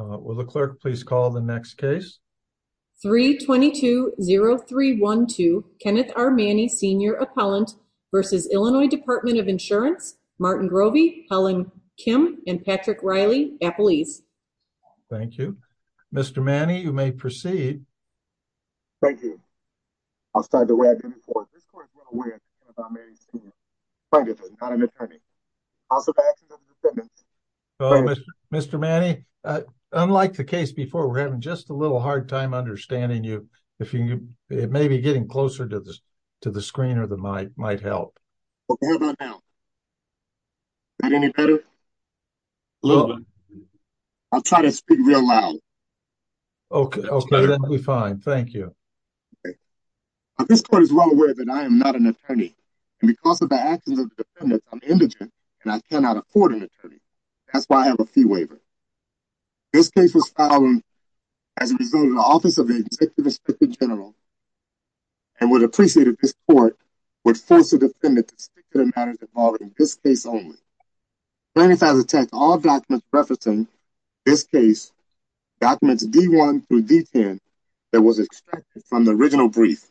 Will the clerk please call the next case? 3 22 03 12 Kenneth R. Manny, senior appellant versus Illinois Department of Insurance. Martin Groby, Helen Kim and Patrick Riley, Apple East. Thank you, Mr Manny. You may proceed. Thank you. I'll start the way I did it for this court. We're aware of our marriage, but it doesn't kind of attorney. Also back to the defendants. Mr Manny, unlike the case before, we're having just a little hard time understanding you. If you may be getting closer to the to the screen or the might might help. Okay, how about now? Got any better? Look, I'll try to speak real loud. Okay, we find. Thank you. Okay, but this court is well aware that I am not an attorney and because of the actions of the defendant, I'm indigent and I cannot afford an attorney. That's why I have a fee waiver. This case was found as a result of the office of the executive assistant general and would appreciate if this court would force the defendant to stick to the matters involved in this case only. Plaintiff has attacked all documents referencing this case. Documents D1 through D10 that was extracted from the original brief.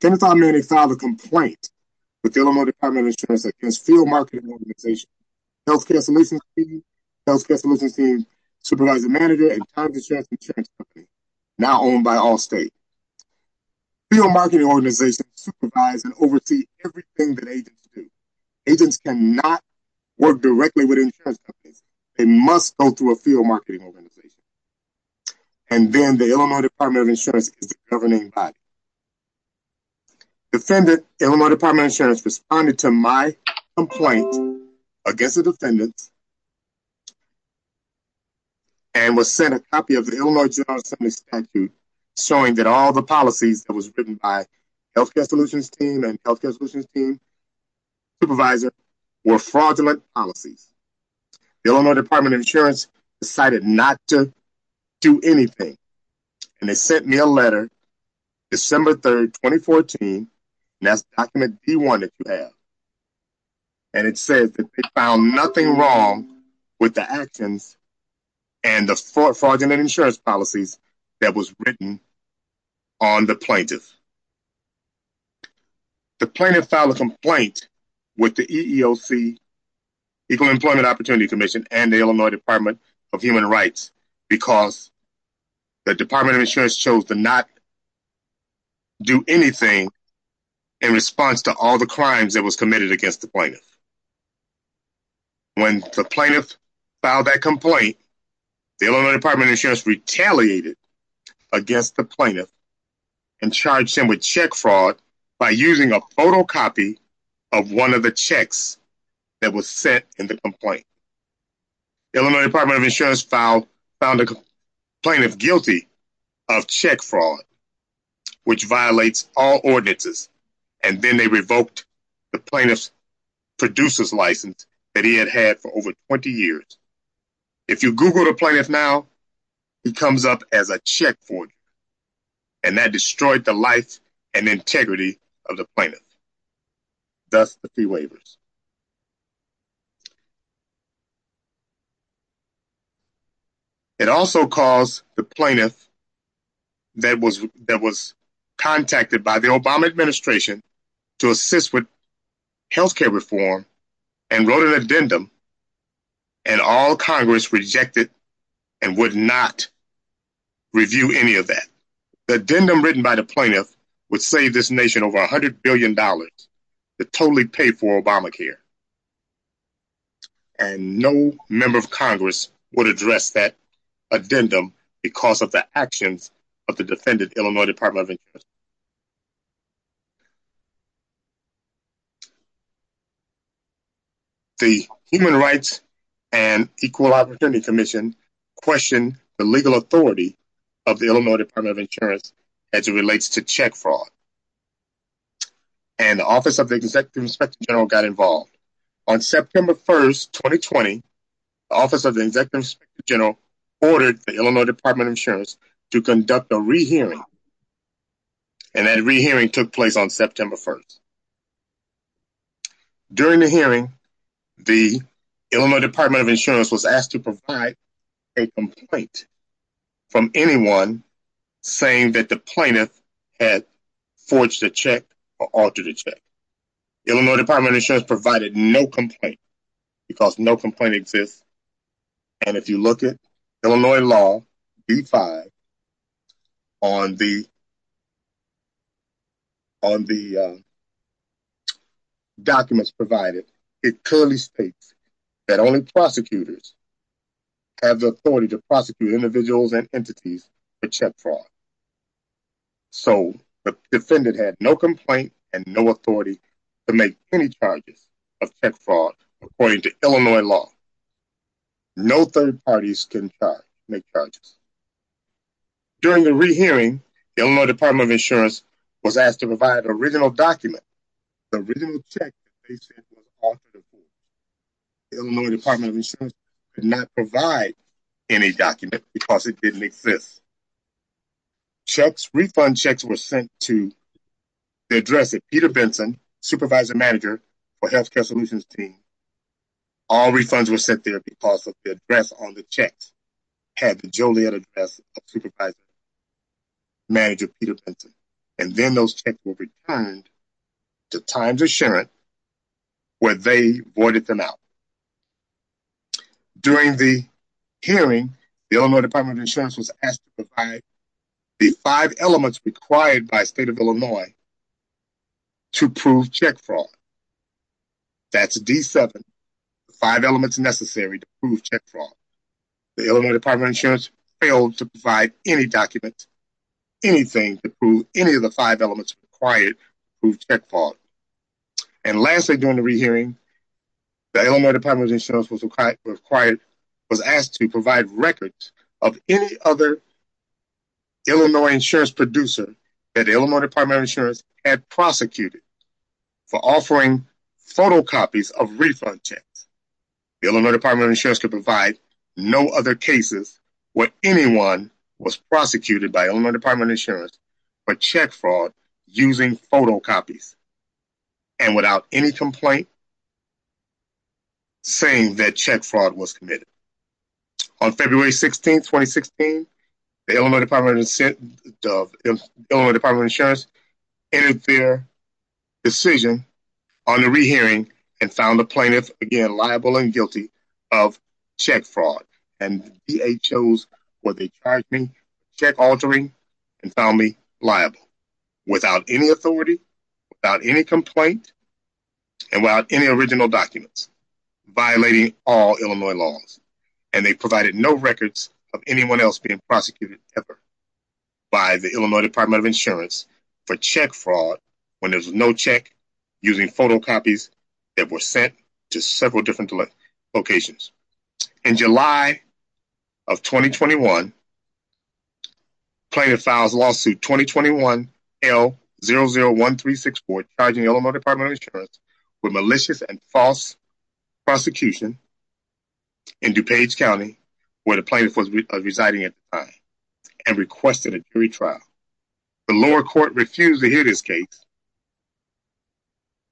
Can't find me any father complaint with Illinois Department of Insurance against field marketing organization, Healthcare Solutions, Healthcare Solutions team, supervising manager and time to check insurance company now owned by all state field marketing organization, supervise and oversee everything that agents do. Agents cannot work directly with insurance companies. They must go through a field marketing organization. And then the Illinois Department of Insurance governing body defendant, Illinois Department of Insurance responded to my complaint against the defendant and was sent a copy of the Illinois General Assembly statute showing that all the policies that was written by Healthcare Solutions team and Healthcare Solutions team supervisor were fraudulent policies. Illinois Department of Insurance decided not to do anything. And they sent me a letter December 3rd, 2014. That's document he wanted to have. And it says that they found nothing wrong with the actions and the fraud fraudulent insurance policies that was written on the plaintiff. The plaintiff filed a complaint with the EEOC, Equal Employment Opportunity Commission and the Illinois Department of Human Rights, because the Department of Insurance chose to not do anything in response to all the crimes that was committed against the plaintiff. When the plaintiff filed that complaint, the Illinois Department of Insurance retaliated against the plaintiff and charged him with check fraud by using a photocopy of one of the checks that was set in the complaint. Illinois Department of Insurance found the plaintiff guilty of check fraud, which violates all ordinances. And then they revoked the plaintiff's producer's license that he had had for over 20 years. If you Google the plaintiff now, he comes up as a check fraud. And that destroyed the life and integrity of the plaintiff. That's the fee waivers. It also caused the plaintiff that was that was contacted by the Obama administration to assist with health care reform and wrote an addendum, and all Congress rejected and would not review any of that. The addendum written by the plaintiff would save this nation over $100 billion to totally pay for Obamacare. And no member of Congress would address that addendum because of the actions of the defendant, Illinois Department of Insurance. The Human Rights and Equal Opportunity Commission questioned the legal authority of the Illinois Department of Insurance as it relates to check fraud. And the Office of the Executive Inspector General got involved. On September 1st, 2020, the Office of the Executive Inspector General ordered the Illinois Department of Insurance to conduct a re-hearing. And that re-hearing took place on September 1st. During the hearing, the Illinois Department of Insurance was forced to check or alter the check. Illinois Department of Insurance provided no complaint because no complaint exists. And if you look at Illinois law B-5 on the on the documents provided, it clearly states that only prosecutors have the authority to make any charges of fraud according to Illinois law. No third parties can make charges. During the re-hearing, the Illinois Department of Insurance was asked to provide an original document. The original check was altered. The Illinois Department of Insurance could not provide any document because it didn't exist. Refund checks were sent to the address of Peter Benson, Supervisor-Manager for Healthcare Solutions Team. All refunds were sent there because the address on the checks had the Joliet address of Supervisor-Manager Peter Benson. And then those checks were returned to Times Assurance where they boarded them out. During the hearing, the Illinois Department of Insurance was asked to provide the five elements required by state of Illinois to prove check fraud. That's D-7. Five elements necessary to prove check fraud. The Illinois Department of Insurance failed to provide any document, anything to prove any of the five elements required to prove check fraud. And lastly, during the hearing, the Illinois Department of Insurance was asked to provide records of any other Illinois insurance producer that the Illinois Department of Insurance had prosecuted for offering photocopies of refund checks. The Illinois Department of Insurance could provide no other cases where anyone was prosecuted by Illinois Department of Insurance for check fraud using photocopies. And without any complaint saying that check fraud was committed. On February 16, 2016, the Illinois Department of Insurance entered their decision on the re-hearing and found the plaintiff again liable and guilty of check fraud. And the DA chose what they charged me, check without any original documents violating all Illinois laws. And they provided no records of anyone else being prosecuted ever by the Illinois Department of Insurance for check fraud when there's no check using photocopies that were sent to several different locations. In July of 2021, plaintiff files lawsuit 2021-L-001364 charging Illinois Department of Insurance with malicious and false prosecution in DuPage County where the plaintiff was residing at the time and requested a jury trial. The lower court refused to hear this case.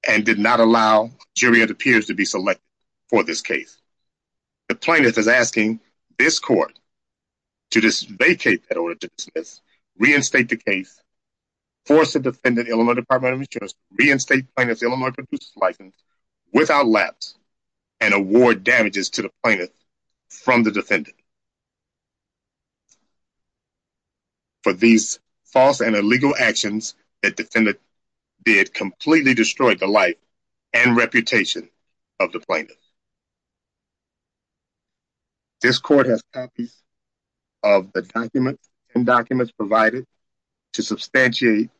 And did not allow jury of the peers to be selected for this case. The plaintiff is asking this court to vacate that order reinstate the case, force the defendant Illinois Department of Insurance to reinstate the plaintiff's Illinois producer's license without lapse and award damages to the plaintiff from the defendant. For these false and illegal actions that defendant did completely destroyed the life and reputation of the plaintiff. This court has copies of the documents and documents provided to substantiate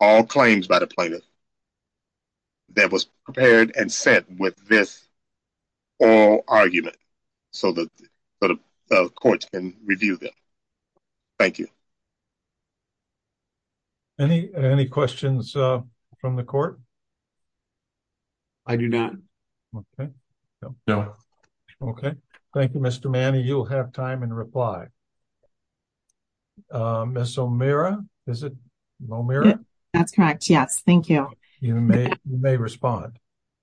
all claims by the plaintiff. That was prepared and sent with this oral argument so that the courts can review them. Thank you. Any questions from the court? I do not. No. Okay. Thank you, Mr. Manny. You'll have time and reply. Miss O'Meara. Is it O'Meara? That's correct. Yes. Thank you. You may respond.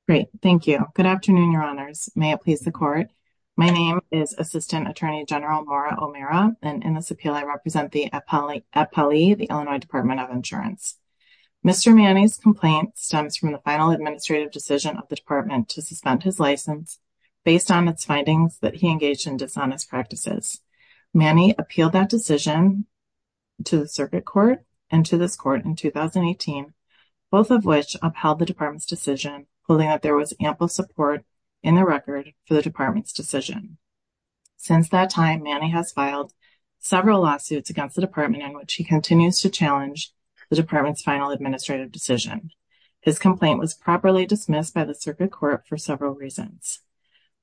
Great. Thank you. Good afternoon. Your honors. May it please the court. My name is Assistant Attorney General Maura O'Meara and in this appeal, I represent the appellee, the Illinois Department of Insurance. Mr. Manny's complaint stems from the final administrative decision of the department to suspend his license based on its findings that he engaged in dishonest practices. Manny appealed that decision to the circuit court and to this court in 2018, both of which upheld the department's decision holding that there was ample support in the record for the department's decision. Since that time, Manny has filed several lawsuits against the department in which he continues to challenge the department's final administrative decision. His complaint was properly dismissed by the circuit court for several reasons.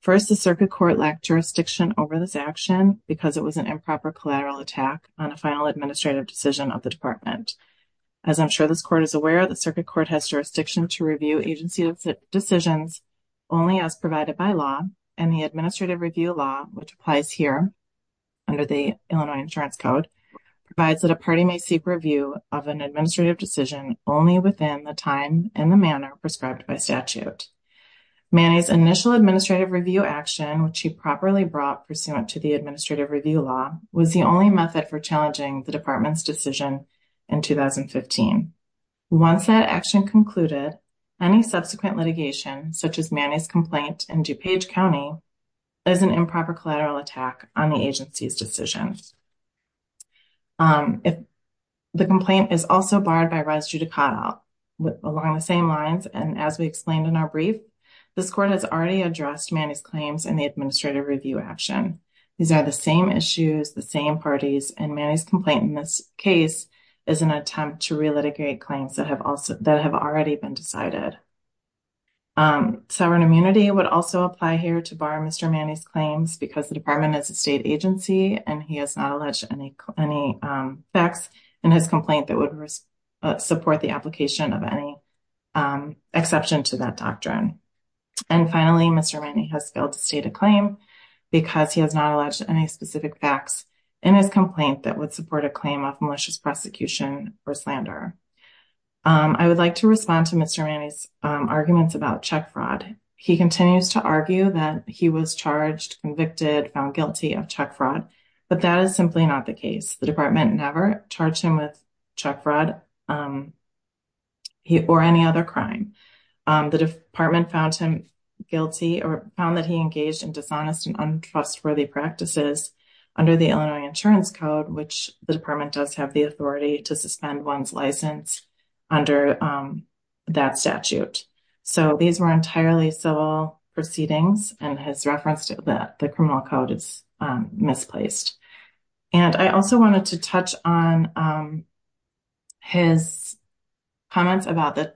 First, the circuit court lacked jurisdiction over this action because it was an improper collateral attack on a final administrative decision of the department. As I'm sure this court is aware, the circuit court has jurisdiction to review agency decisions only as provided by law and the administrative review law, which applies here under the Illinois Insurance Code, provides that a party may seek review of an administrative decision only within the time and the manner prescribed by statute. Manny's initial administrative review action, which he properly brought pursuant to the administrative review law, was the only method for challenging the department's decision in 2015. Once that action concluded, any subsequent litigation, such as Manny's complaint in DuPage County, is an improper collateral attack on the agency's decision. The complaint is also barred by res judicata along the same lines, and as we explained in our brief, this court has already addressed Manny's claims in the administrative review action. These are the same issues, the same parties, and Manny's complaint in this case is an attempt to re-litigate claims that have already been decided. Sovereign immunity would also apply here to bar Mr. Manny's claims because the department is a state agency and he has not alleged any facts in his complaint that would support the application of any exception to that doctrine. And finally, Mr. Manny has failed to state a claim because he has not alleged any specific facts in his complaint that would support a claim of malicious prosecution or slander. I would like to respond to Mr. Manny's arguments about check fraud. He continues to argue that he was charged, convicted, found guilty of check fraud, but that is simply not the case. The department never charged him with check fraud or any other crime. The department found him guilty or found that he engaged in dishonest and untrustworthy practices under the Illinois Insurance Code, which the department does have the authority to suspend one's license under that statute. So these were entirely civil proceedings and his reference to the criminal code is misplaced. And I also wanted to touch on his comments about the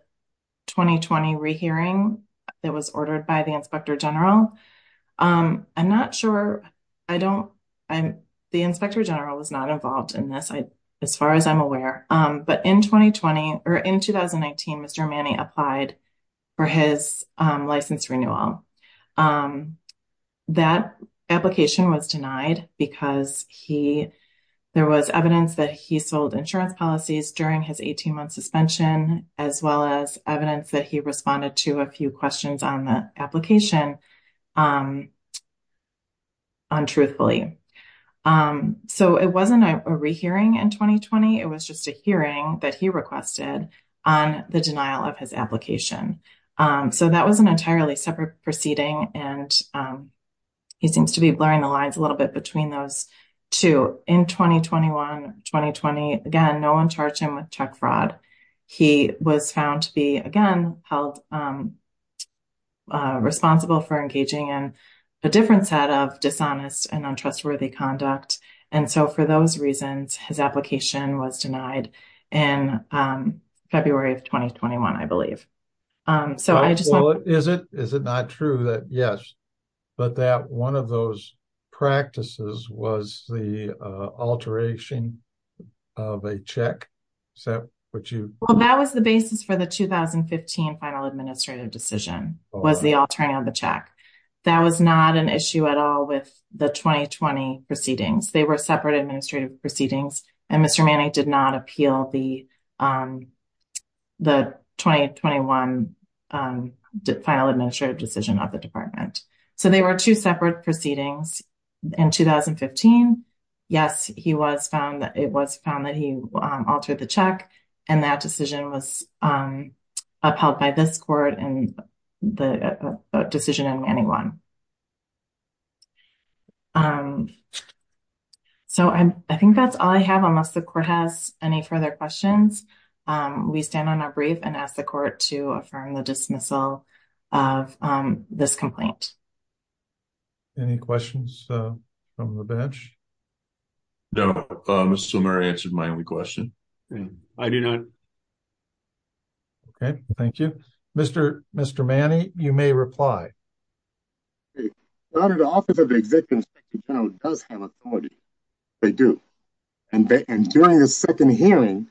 2020 re-hearing that was ordered by the inspector general. I'm not sure, I don't, the inspector general was not involved in this as far as I'm aware. But in 2020 or in 2019, Mr. Manny applied for his license renewal. That application was denied because there was evidence that he sold insurance policies during his 18-month suspension, as well as evidence that he responded to a few questions on the application untruthfully. So it wasn't a re-hearing in 2020. It was just a hearing that he requested on the denial of his application. So that was an entirely separate proceeding. And he seems to be blurring the lines a little bit between those two. In 2021, 2020, again, no one charged him with check fraud. He was found to be, again, held responsible for engaging in a different set of dishonest and untrustworthy conduct. And so for those reasons, his application was denied in February of 2021, I believe. So I just want- Well, is it not true that, yes, but that one of those practices was the alteration of a check? Is that what you- Well, that was the basis for the 2015 final administrative decision, was the altering of the check. That was not an issue at all with the 2020 proceedings. They were separate administrative proceedings, and Mr. Manning did not appeal the 2021 final administrative decision of the department. So they were two separate proceedings in 2015. Yes, it was found that he altered the check, and that decision was upheld by this court in the decision in Manning 1. So I think that's all I have. Unless the court has any further questions, we stand on our brief and ask the court to affirm the dismissal of this complaint. Any questions from the bench? No, Mr. Swimmer answered my only question. I do not. Okay, thank you. Mr. Manning, you may reply. Your Honor, the Office of the Executive Inspector General does have authority. They do, and during the second hearing,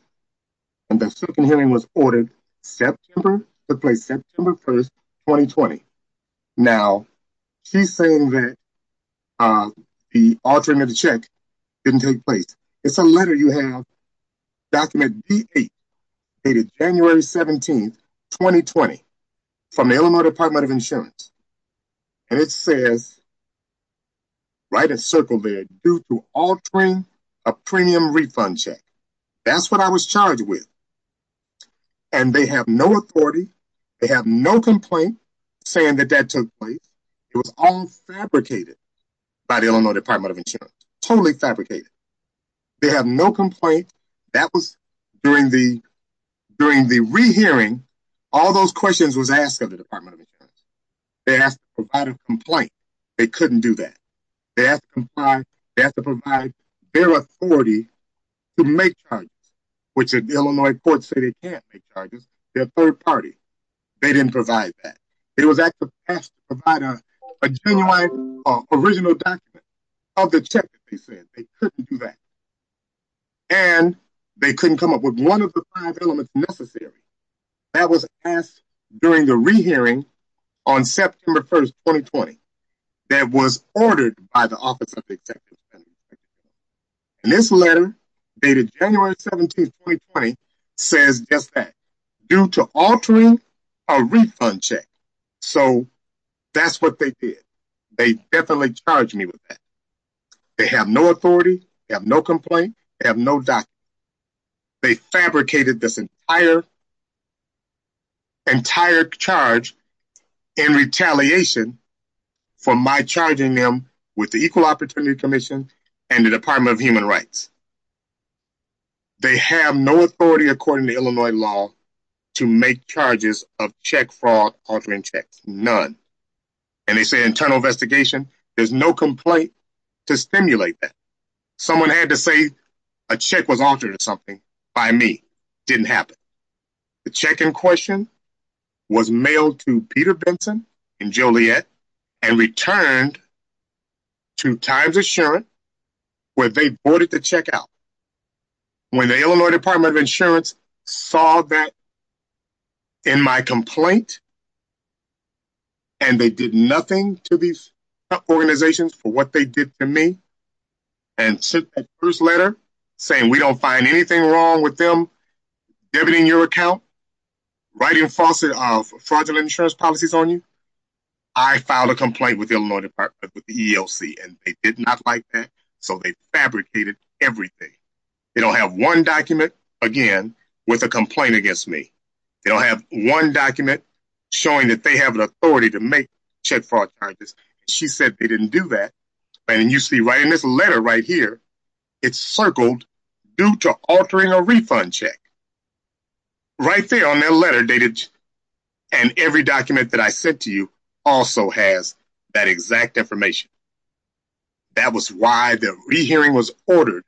and the second hearing was ordered September, took place September 1, 2020. Now, she's saying that the altering of the check didn't take place. It's a letter you have, document D8 dated January 17, 2020, from the Illinois Department of Insurance, and it says, right in circle there, due to altering a premium refund check. That's what I was charged with, and they have no authority. They have no complaint saying that that took place. It was all fabricated by the Illinois Department of Insurance, totally fabricated. They have no complaint. That was during the re-hearing. All those questions was asked of the Department of Insurance. They asked to provide a complaint. They couldn't do that. They asked to provide their authority to make charges, which the Illinois courts say they can't make charges. They're third party. They didn't provide that. It was asked to provide a genuine, original document of the check. They said they couldn't do that. And they couldn't come up with one of the five elements necessary. That was asked during the re-hearing on September 1st, 2020, that was ordered by the Office of Executive. And this letter, dated January 17, 2020, says just that, due to altering a refund check. So, that's what they did. They definitely charged me with that. They have no authority. They have no complaint. They have no document. They fabricated this entire charge in retaliation for my charging them with the Equal Opportunity Commission and the Department of Human Rights. They have no authority, according to Illinois law, to make charges of check fraud, altering checks, none. And they say internal investigation. There's no complaint to stimulate that. Someone had to say a check was altered or something by me. Didn't happen. The check in question was mailed to Peter Benson and Joliet and returned to Times Assurance, where they bought it to check out. When the Illinois Department of Insurance saw that in my complaint, and they did nothing to these organizations for what they did to me, and sent that first letter saying we don't find anything wrong with them debiting your account, writing fraudulent insurance policies on you, I filed a complaint with the Illinois Department with the EEOC, and they did not like that. So, they fabricated everything. They don't have one document, again, with a complaint against me. They don't have one document showing that they have an authority to make check fraud charges. She said they didn't do that. And you see right in this letter right here, it's circled due to altering a refund check. Right there on that letter, and every document that I sent to you also has that exact information. That was why the re-hearing was ordered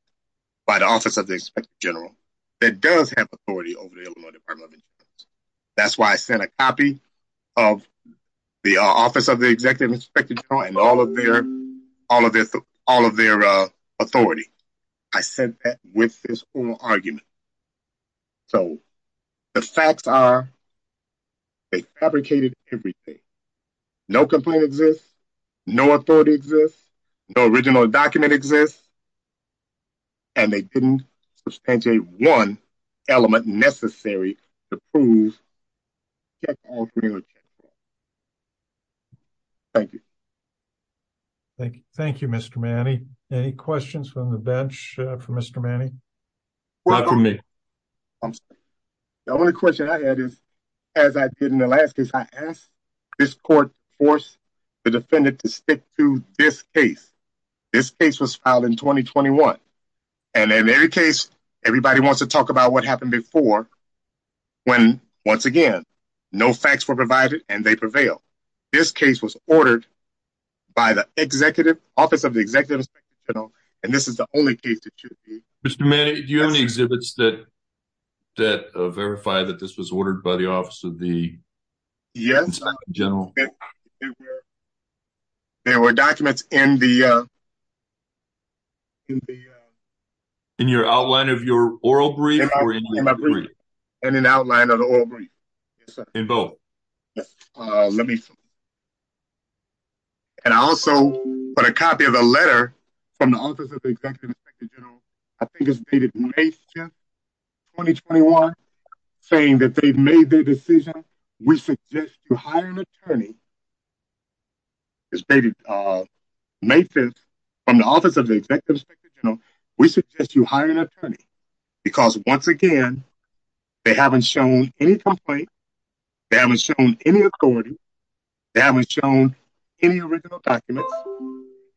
by the Office of the Inspector General that does have authority over the Illinois Department of Insurance. That's why I sent a copy of the Office of the Executive Inspector General and all of their authority. I sent that with this oral argument. So, the facts are, they fabricated everything. No complaint exists, no authority exists, no original document exists, and they didn't substantiate one element necessary to prove check fraud. Thank you. Thank you. Thank you, Mr. Manny. Any questions from the bench for Mr. Manny? Not from me. The only question I had is, as I did in the last case, I asked this court to force the defendant to stick to this case. This case was filed in 2021. And in every case, everybody wants to talk about what happened before when, once again, no facts were provided and they prevail. This case was ordered by the Office of the Executive Inspector General, and this is the only case that should be. Mr. Manny, do you have any exhibits that verify that this was ordered by the Office of the Inspector General? There were documents in the... In your outline of your oral brief? In an outline of the oral brief. In both. Let me see. And I also put a copy of a letter from the Office of the Executive Inspector General. I think it's dated May 5th, 2021, saying that they've made their decision. We suggest you hire an attorney. It's dated May 5th from the Office of the Executive Inspector General. We suggest you hire an attorney because, once again, they haven't shown any complaints. They haven't shown any authority. They haven't shown any original documents,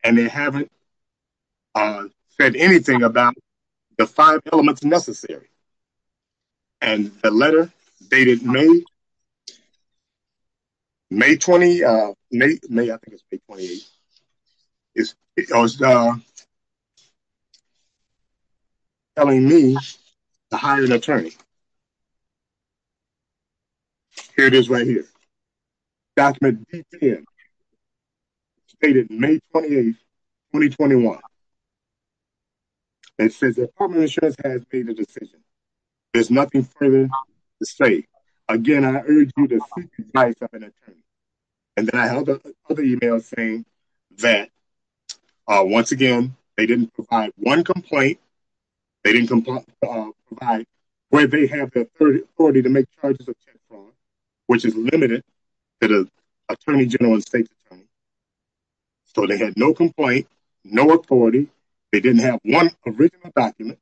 and they haven't said anything about the five elements necessary. And the letter dated May 28th, is telling me to hire an attorney. Here it is right here. Document DPM, dated May 28th, 2021. It says the Department of Insurance has made a decision. There's nothing further to say. Again, I urge you to seek the advice of an attorney. And then I held up another email saying that, once again, they didn't provide one complaint. They didn't provide where they have the authority to make charges of tax fraud, which is limited to the Attorney General and State Attorney. So they had no complaint, no authority. They didn't have one original document.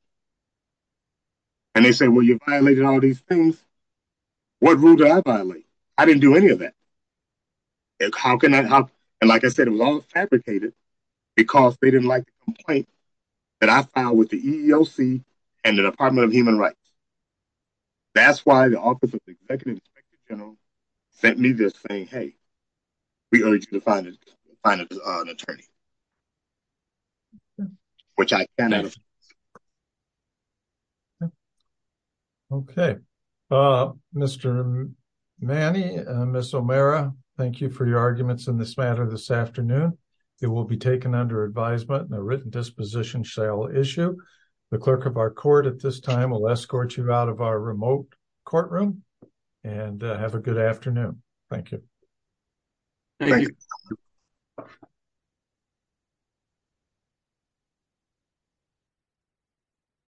And they said, well, you violated all these things. What rule do I violate? I didn't do any of that. And like I said, it was all fabricated because they didn't like the complaint that I filed with the EEOC and the Department of Human Rights. That's why the Office of the Executive Inspector General sent me this saying, hey, we urge you to find an attorney. Which I can't do. Okay, Mr. Manny, Ms. O'Mara, thank you for your arguments in this matter this afternoon. It will be taken under advisement and a written disposition shall issue. The clerk of our court at this time will escort you out of our remote courtroom and have a good afternoon. Thank you. Thank you. Thank you.